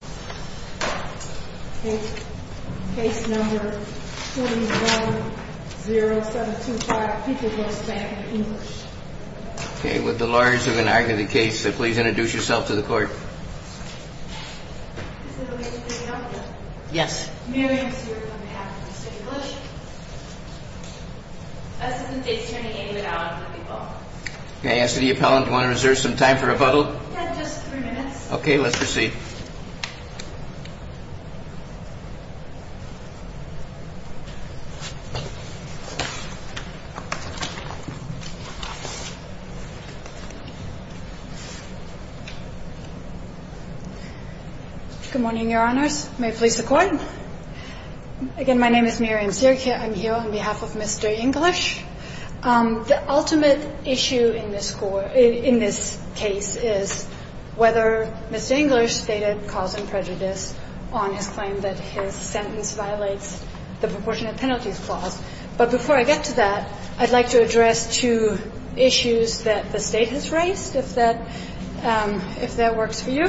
Case number 310725, Peterborough, Spokane, English Okay, would the lawyers who have been arguing the case please introduce yourself to the court? Is it okay if we take it off now? Yes. Mary, I'm sorry, on behalf of the State Coalition. As of today, it's turning in and out of the people. Okay, as to the appellant, do you want to reserve some time for rebuttal? Yes, just three minutes. Okay, let's proceed. Good morning, Your Honors. May it please the Court? Again, my name is Miriam Sirkia. I'm here on behalf of Mr. English. The ultimate issue in this case is whether Mr. English stated cause and prejudice on his claim that his sentence violates the proportionate penalties clause. But before I get to that, I'd like to address two issues that the State has raised, if that works for you.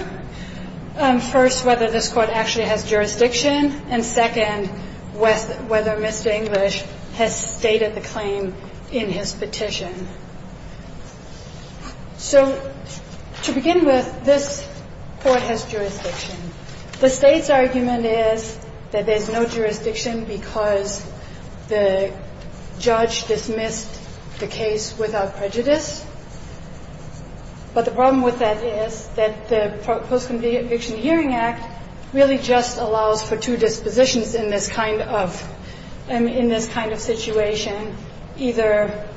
First, whether this Court actually has jurisdiction. And second, whether Mr. English has stated the claim in his petition. So to begin with, this Court has jurisdiction. The State's argument is that there's no jurisdiction because the judge dismissed the case without prejudice. But the problem with that is that the Post-Conviction Hearing Act really just allows for two dispositions in this kind of situation, either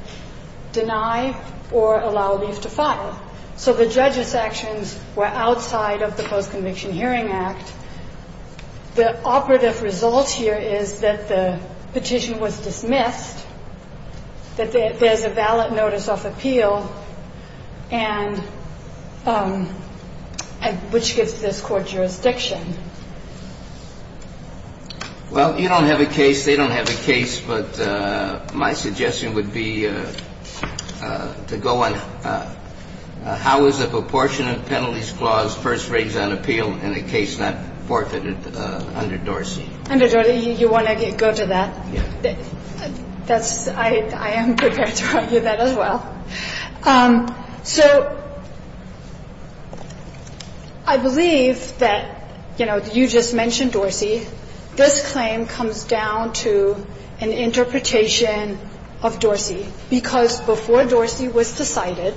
deny or allow leave to file. So the judge's actions were outside of the Post-Conviction Hearing Act. The operative result here is that the petition was dismissed, that there's a valid notice of appeal, which gives this Court jurisdiction. Well, you don't have a case, they don't have a case, but my suggestion would be to go on how is the proportionate penalties clause first raised on appeal in a case not forfeited under Dorsey? Under Dorsey, you want to go to that? Yeah. I am prepared to argue that as well. So I believe that, you know, you just mentioned Dorsey. This claim comes down to an interpretation of Dorsey, because before Dorsey was decided,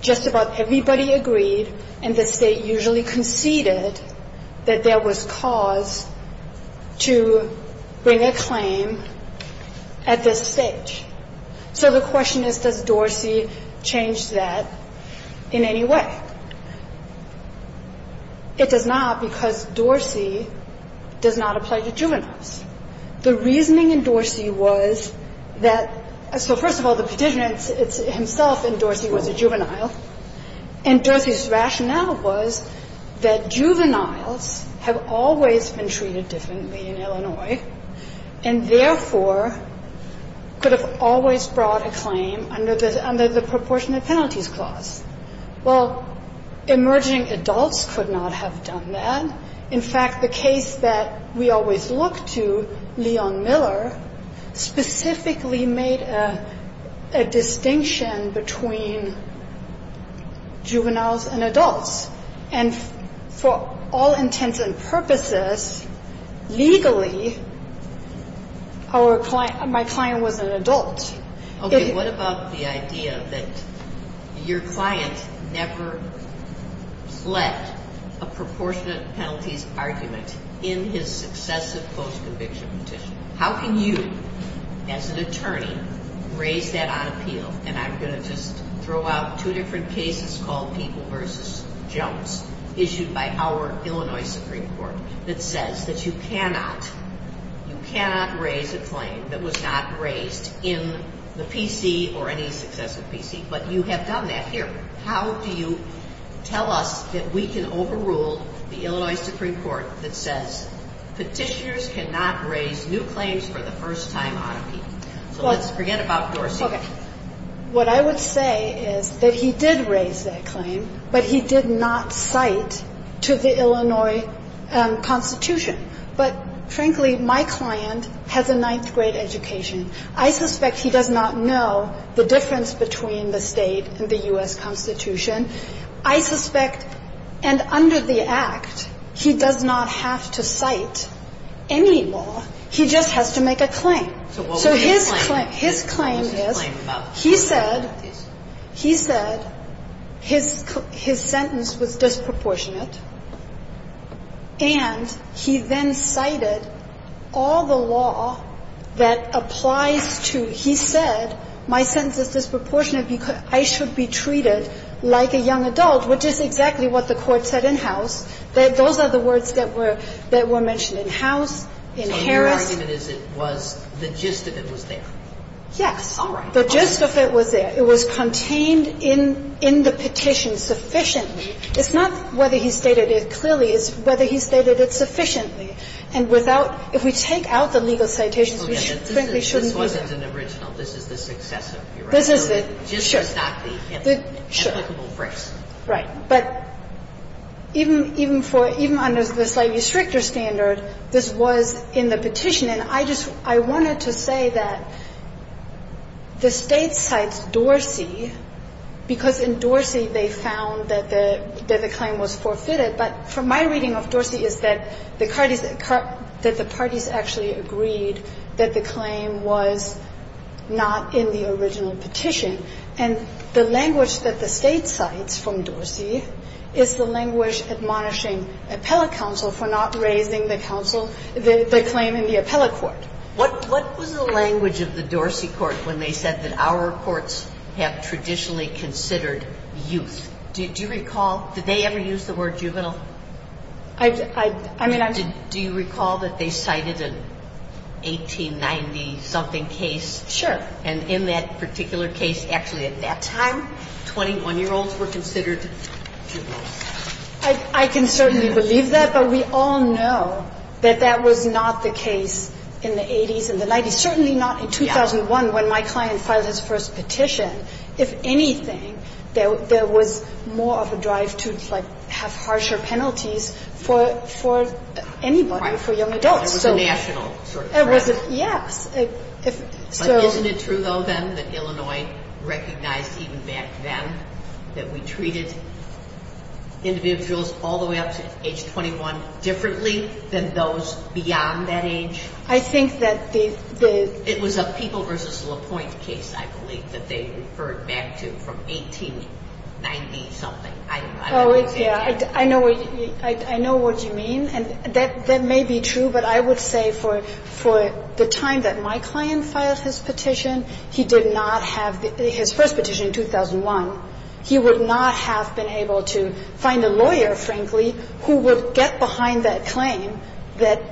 just about everybody agreed, and the State usually conceded, that there was cause to bring a claim at this stage. So the question is, does Dorsey change that in any way? It does not, because Dorsey does not apply to juveniles. The reasoning in Dorsey was that so first of all, the petitioner himself in Dorsey was a juvenile, and Dorsey's rationale was that juveniles have always been treated differently in Illinois, and therefore could have always brought a claim under the proportionate penalties clause. Well, emerging adults could not have done that. In fact, the case that we always look to, Leon Miller, specifically made a distinction between juveniles and adults. And for all intents and purposes, legally, my client was an adult. Okay. What about the idea that your client never fled a proportionate penalties argument in his successive post-conviction petition? How can you, as an attorney, raise that on appeal? And I'm going to just throw out two different cases called People v. Jones, issued by our Illinois Supreme Court, that says that you cannot raise a claim that was not raised in the PC or any successive PC, but you have done that here. How do you tell us that we can overrule the Illinois Supreme Court that says petitioners cannot raise new claims for the first time on appeal? So let's forget about Dorsey. Okay. What I would say is that he did raise that claim, but he did not cite to the Illinois Constitution. But, frankly, my client has a ninth-grade education. I suspect he does not know the difference between the State and the U.S. Constitution. I suspect, and under the Act, he does not have to cite any law. He just has to make a claim. So his claim is he said his sentence was disproportionate, and he then cited all the law that applies to, he said my sentence is disproportionate because I should be treated like a young adult, which is exactly what the Court said in-house. Those are the words that were mentioned in-house, in Harris. So your argument is it was the gist of it was there. Yes. All right. The gist of it was there. It was contained in the petition sufficiently. It's not whether he stated it clearly. It's whether he stated it sufficiently. And without – if we take out the legal citations, we frankly shouldn't be there. This wasn't an original. This is the success of your argument. This is the – sure. The gist is not the implicable friction. Right. But even for – even under the slightly stricter standard, this was in the petition. And I just – I wanted to say that the State cites Dorsey because in Dorsey, they found that the claim was forfeited. But from my reading of Dorsey is that the parties actually agreed that the claim was not in the original petition. And the language that the State cites from Dorsey is the language admonishing appellate counsel for not raising the counsel, the claim in the appellate court. What was the language of the Dorsey court when they said that our courts have traditionally considered youth? Do you recall – did they ever use the word juvenile? I mean, I'm just – Do you recall that they cited an 1890-something case? Sure. And in that particular case, actually at that time, 21-year-olds were considered juveniles. I can certainly believe that, but we all know that that was not the case in the 80s and the 90s, certainly not in 2001 when my client filed his first petition. If anything, there was more of a drive to, like, have harsher penalties for anybody, for young adults. Right. It was a national sort of threat. Yes. But isn't it true, though, then, that Illinois recognized even back then that we treated individuals all the way up to age 21 differently than those beyond that age? I think that the – It was a People v. LaPointe case, I believe, that they referred back to from 1890-something. Oh, yeah. I know what you mean. And that may be true, but I would say for the time that my client filed his petition, he did not have his first petition in 2001. He would not have been able to find a lawyer, frankly, who would get behind that claim that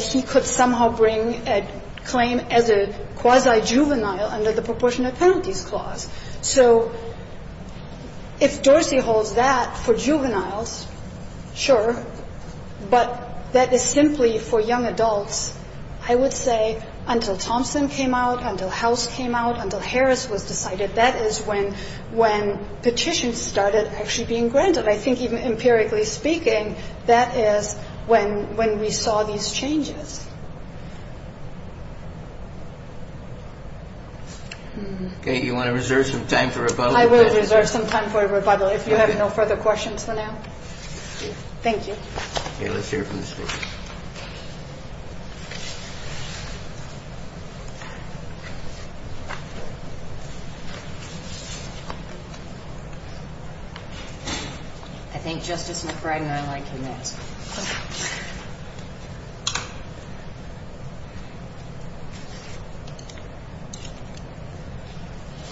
he could somehow bring a claim as a quasi-juvenile under the proportionate penalties clause. So if Dorsey holds that for juveniles, sure, but that is simply for young adults, I would say, until Thompson came out, until House came out, until Harris was decided, that is when petitions started actually being granted. And I think even empirically speaking, that is when we saw these changes. Okay, you want to reserve some time for rebuttal? I will reserve some time for rebuttal if you have no further questions for now. Thank you. Okay, let's hear from the speaker. I think Justice McBride and I like him next.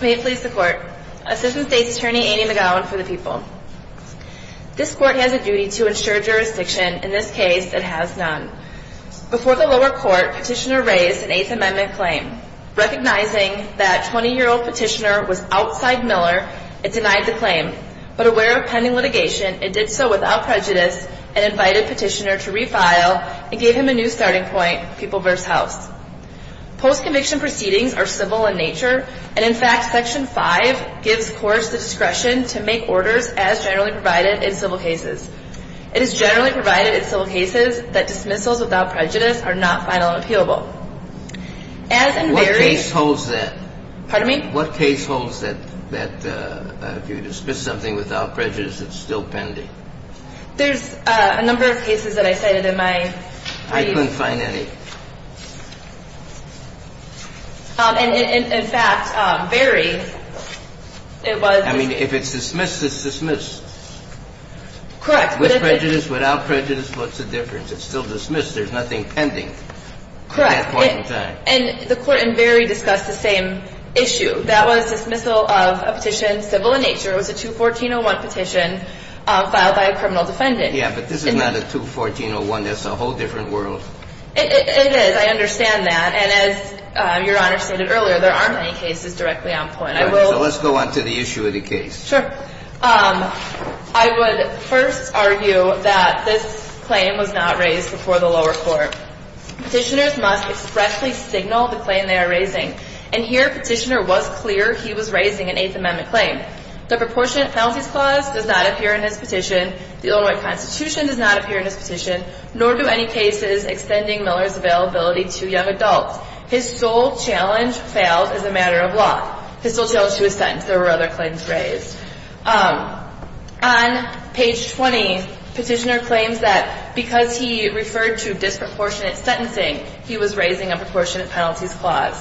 May it please the Court. Assistant State's Attorney Amy McGowan for the People. This Court has a duty to ensure jurisdiction. In this case, it has none. Before the lower court, petitioner raised an Eighth Amendment claim. Recognizing that 20-year-old petitioner was outside Miller, it denied the claim, but aware of pending litigation, it did so without prejudice, and invited petitioner to refile and gave him a new starting point, People v. House. Post-conviction proceedings are civil in nature, and in fact, Section 5 gives courts the discretion to make orders as generally provided in civil cases. It is generally provided in civil cases that dismissals without prejudice are not final and appealable. What case holds that? Pardon me? This is something without prejudice that's still pending. There's a number of cases that I cited in my brief. I couldn't find any. And in fact, Berry, it was. I mean, if it's dismissed, it's dismissed. Correct. With prejudice, without prejudice, what's the difference? It's still dismissed. There's nothing pending at that point in time. Correct. And the Court in Berry discussed the same issue. That was dismissal of a petition civil in nature. It was a 214-01 petition filed by a criminal defendant. Yeah, but this is not a 214-01. That's a whole different world. It is. I understand that. And as Your Honor stated earlier, there aren't any cases directly on point. So let's go on to the issue of the case. Sure. I would first argue that this claim was not raised before the lower court. Petitioners must expressly signal the claim they are raising. And here, Petitioner was clear he was raising an Eighth Amendment claim. The Proportionate Penalties Clause does not appear in his petition. The Illinois Constitution does not appear in his petition, nor do any cases extending Miller's availability to young adults. His sole challenge failed as a matter of law. His sole challenge was sentenced. There were other claims raised. On page 20, Petitioner claims that because he referred to disproportionate sentencing, he was raising a Proportionate Penalties Clause.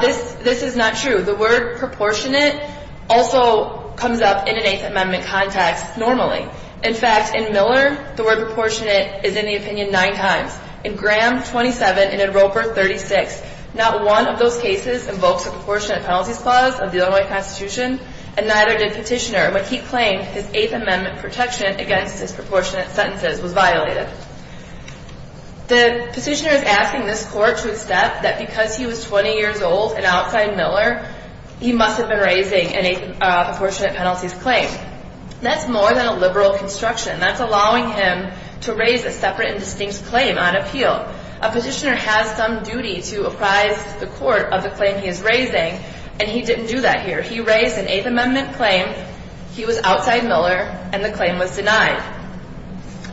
This is not true. The word proportionate also comes up in an Eighth Amendment context normally. In fact, in Miller, the word proportionate is in the opinion nine times. In Graham 27 and in Roper 36, not one of those cases invokes a Proportionate Penalties Clause of the Illinois Constitution, and neither did Petitioner. When he claimed his Eighth Amendment protection against disproportionate sentences was violated. The Petitioner is asking this court to accept that because he was 20 years old and outside Miller, he must have been raising an Eighth Apportionate Penalties Claim. That's more than a liberal construction. That's allowing him to raise a separate and distinct claim on appeal. A petitioner has some duty to apprise the court of the claim he is raising, and he didn't do that here. He raised an Eighth Amendment claim. He was outside Miller, and the claim was denied.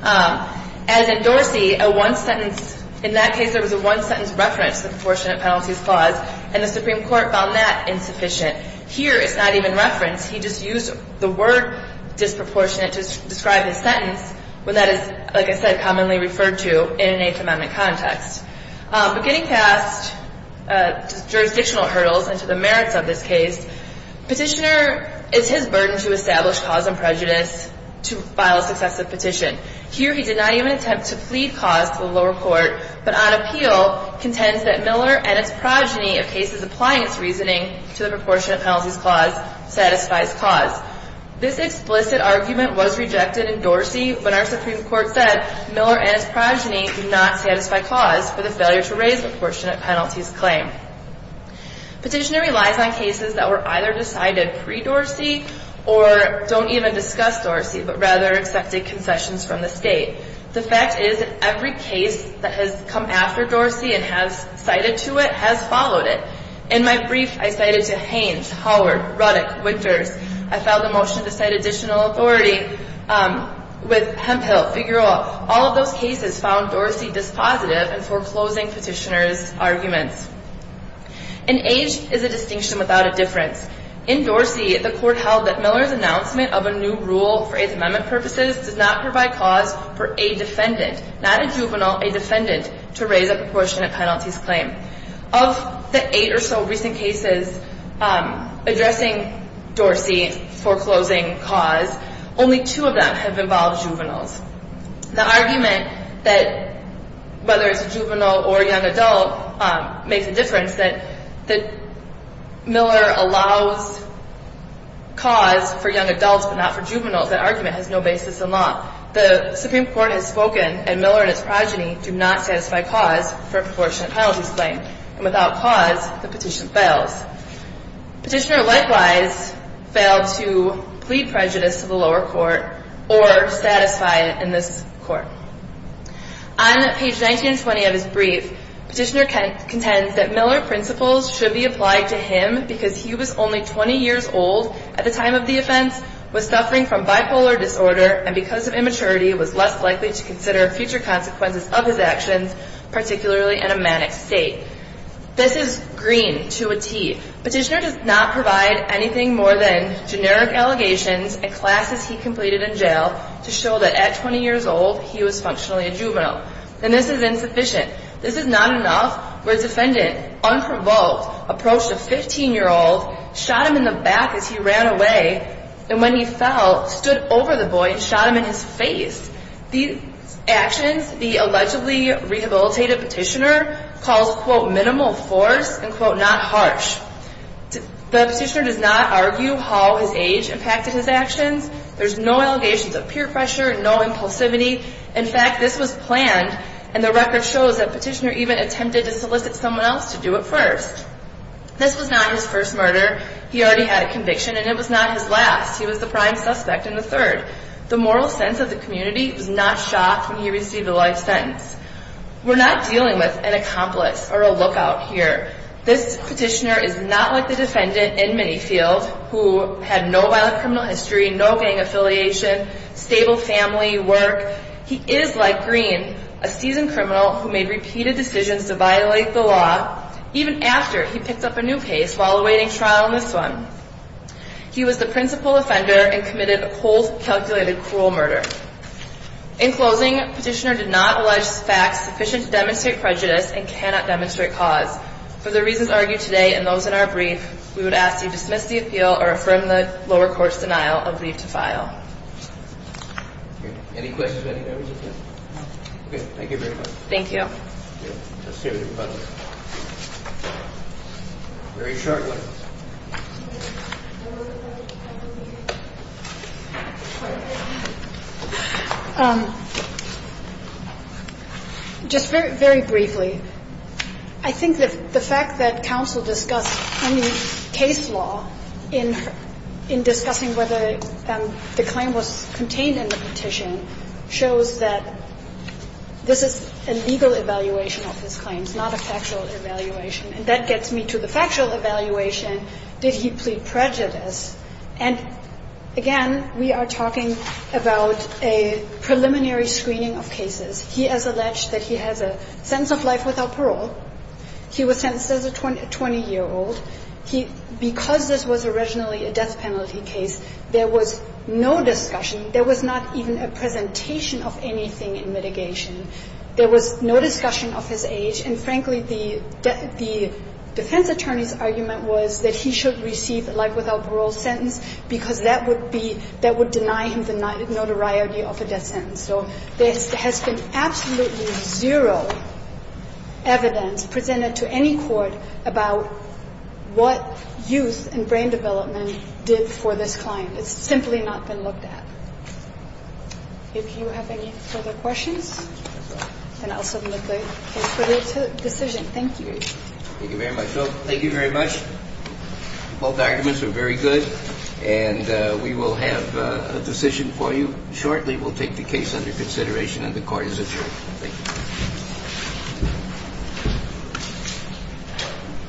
As in Dorsey, in that case, there was a one-sentence reference to the Proportionate Penalties Clause, and the Supreme Court found that insufficient. Here, it's not even referenced. He just used the word disproportionate to describe his sentence, when that is, like I said, commonly referred to in an Eighth Amendment context. But getting past jurisdictional hurdles and to the merits of this case, Petitioner, it's his burden to establish cause and prejudice to file a successive petition. Here, he did not even attempt to plead cause to the lower court, but on appeal contends that Miller and its progeny, if cases applying its reasoning to the Proportionate Penalties Clause, satisfies cause. This explicit argument was rejected in Dorsey, but our Supreme Court said Miller and his progeny do not satisfy cause for the failure to raise the Proportionate Penalties Claim. Petitioner relies on cases that were either decided pre-Dorsey or don't even discuss Dorsey, but rather accepted concessions from the state. The fact is, every case that has come after Dorsey and has cited to it has followed it. In my brief, I cited to Haines, Howard, Ruddock, Wickers. I filed a motion to cite additional authority with Hemphill, Figueroa. All of those cases found Dorsey dispositive in foreclosing Petitioner's arguments. An age is a distinction without a difference. In Dorsey, the court held that Miller's announcement of a new rule for Eighth Amendment purposes does not provide cause for a defendant, not a juvenile, a defendant, to raise a Proportionate Penalties Claim. Of the eight or so recent cases addressing Dorsey foreclosing cause, only two of them have involved juveniles. The argument that whether it's a juvenile or a young adult makes a difference, that Miller allows cause for young adults but not for juveniles, that argument, has no basis in law. The Supreme Court has spoken, and Miller and his progeny do not satisfy cause for a Proportionate Penalties Claim. And without cause, the petition fails. Petitioner likewise failed to plead prejudice to the lower court or satisfy it in this court. On page 1920 of his brief, Petitioner contends that Miller principles should be applied to him because he was only 20 years old at the time of the offense, was suffering from bipolar disorder, and because of immaturity was less likely to consider future consequences of his actions, particularly in a manic state. This is green to a T. Petitioner does not provide anything more than generic allegations and classes he completed in jail to show that at 20 years old, he was functionally a juvenile. Then this is insufficient. This is not enough where the defendant, unprovoked, approached a 15-year-old, shot him in the back as he ran away, and when he fell, stood over the boy and shot him in his face. These actions, the allegedly rehabilitated Petitioner calls, quote, minimal force and, quote, not harsh. The Petitioner does not argue how his age impacted his actions. There's no allegations of peer pressure, no impulsivity. In fact, this was planned, and the record shows that Petitioner even attempted to solicit someone else to do it first. This was not his first murder. He already had a conviction, and it was not his last. He was the prime suspect and the third. The moral sense of the community was not shocked when he received a life sentence. We're not dealing with an accomplice or a lookout here. This Petitioner is not like the defendant in Minifield, who had no violent criminal history, no gang affiliation, stable family, work. He is like green, a seasoned criminal who made repeated decisions to violate the law, even after he picked up a new case while awaiting trial in this one. He was the principal offender and committed a cold, calculated, cruel murder. In closing, Petitioner did not allege facts sufficient to demonstrate prejudice and cannot demonstrate cause. For the reasons argued today and those in our brief, we would ask that you dismiss the appeal or affirm the lower court's denial of leave to file. Any questions on any of those? Okay. Thank you very much. Thank you. Just very briefly, I think that the fact that counsel discussed any case law in discussing whether the claim was contained in the petition shows that this is a legal event It's a legal event. It's not a factual evaluation. And that gets me to the factual evaluation. Did he plead prejudice? And, again, we are talking about a preliminary screening of cases. He has alleged that he has a sense of life without parole. He was sentenced as a 20-year-old. He – because this was originally a death penalty case, there was no discussion, there was not even a presentation of anything in mitigation. There was no discussion of his age. And, frankly, the defense attorney's argument was that he should receive a life without parole sentence because that would be – that would deny him the notoriety of a death sentence. So there has been absolutely zero evidence presented to any court about what youth and brain development did for this client. It's simply not been looked at. If you have any further questions. Then I'll submit the case for your decision. Thank you. Thank you very much. Thank you very much. Both arguments were very good. And we will have a decision for you shortly. We'll take the case under consideration and the court is adjourned. Thank you.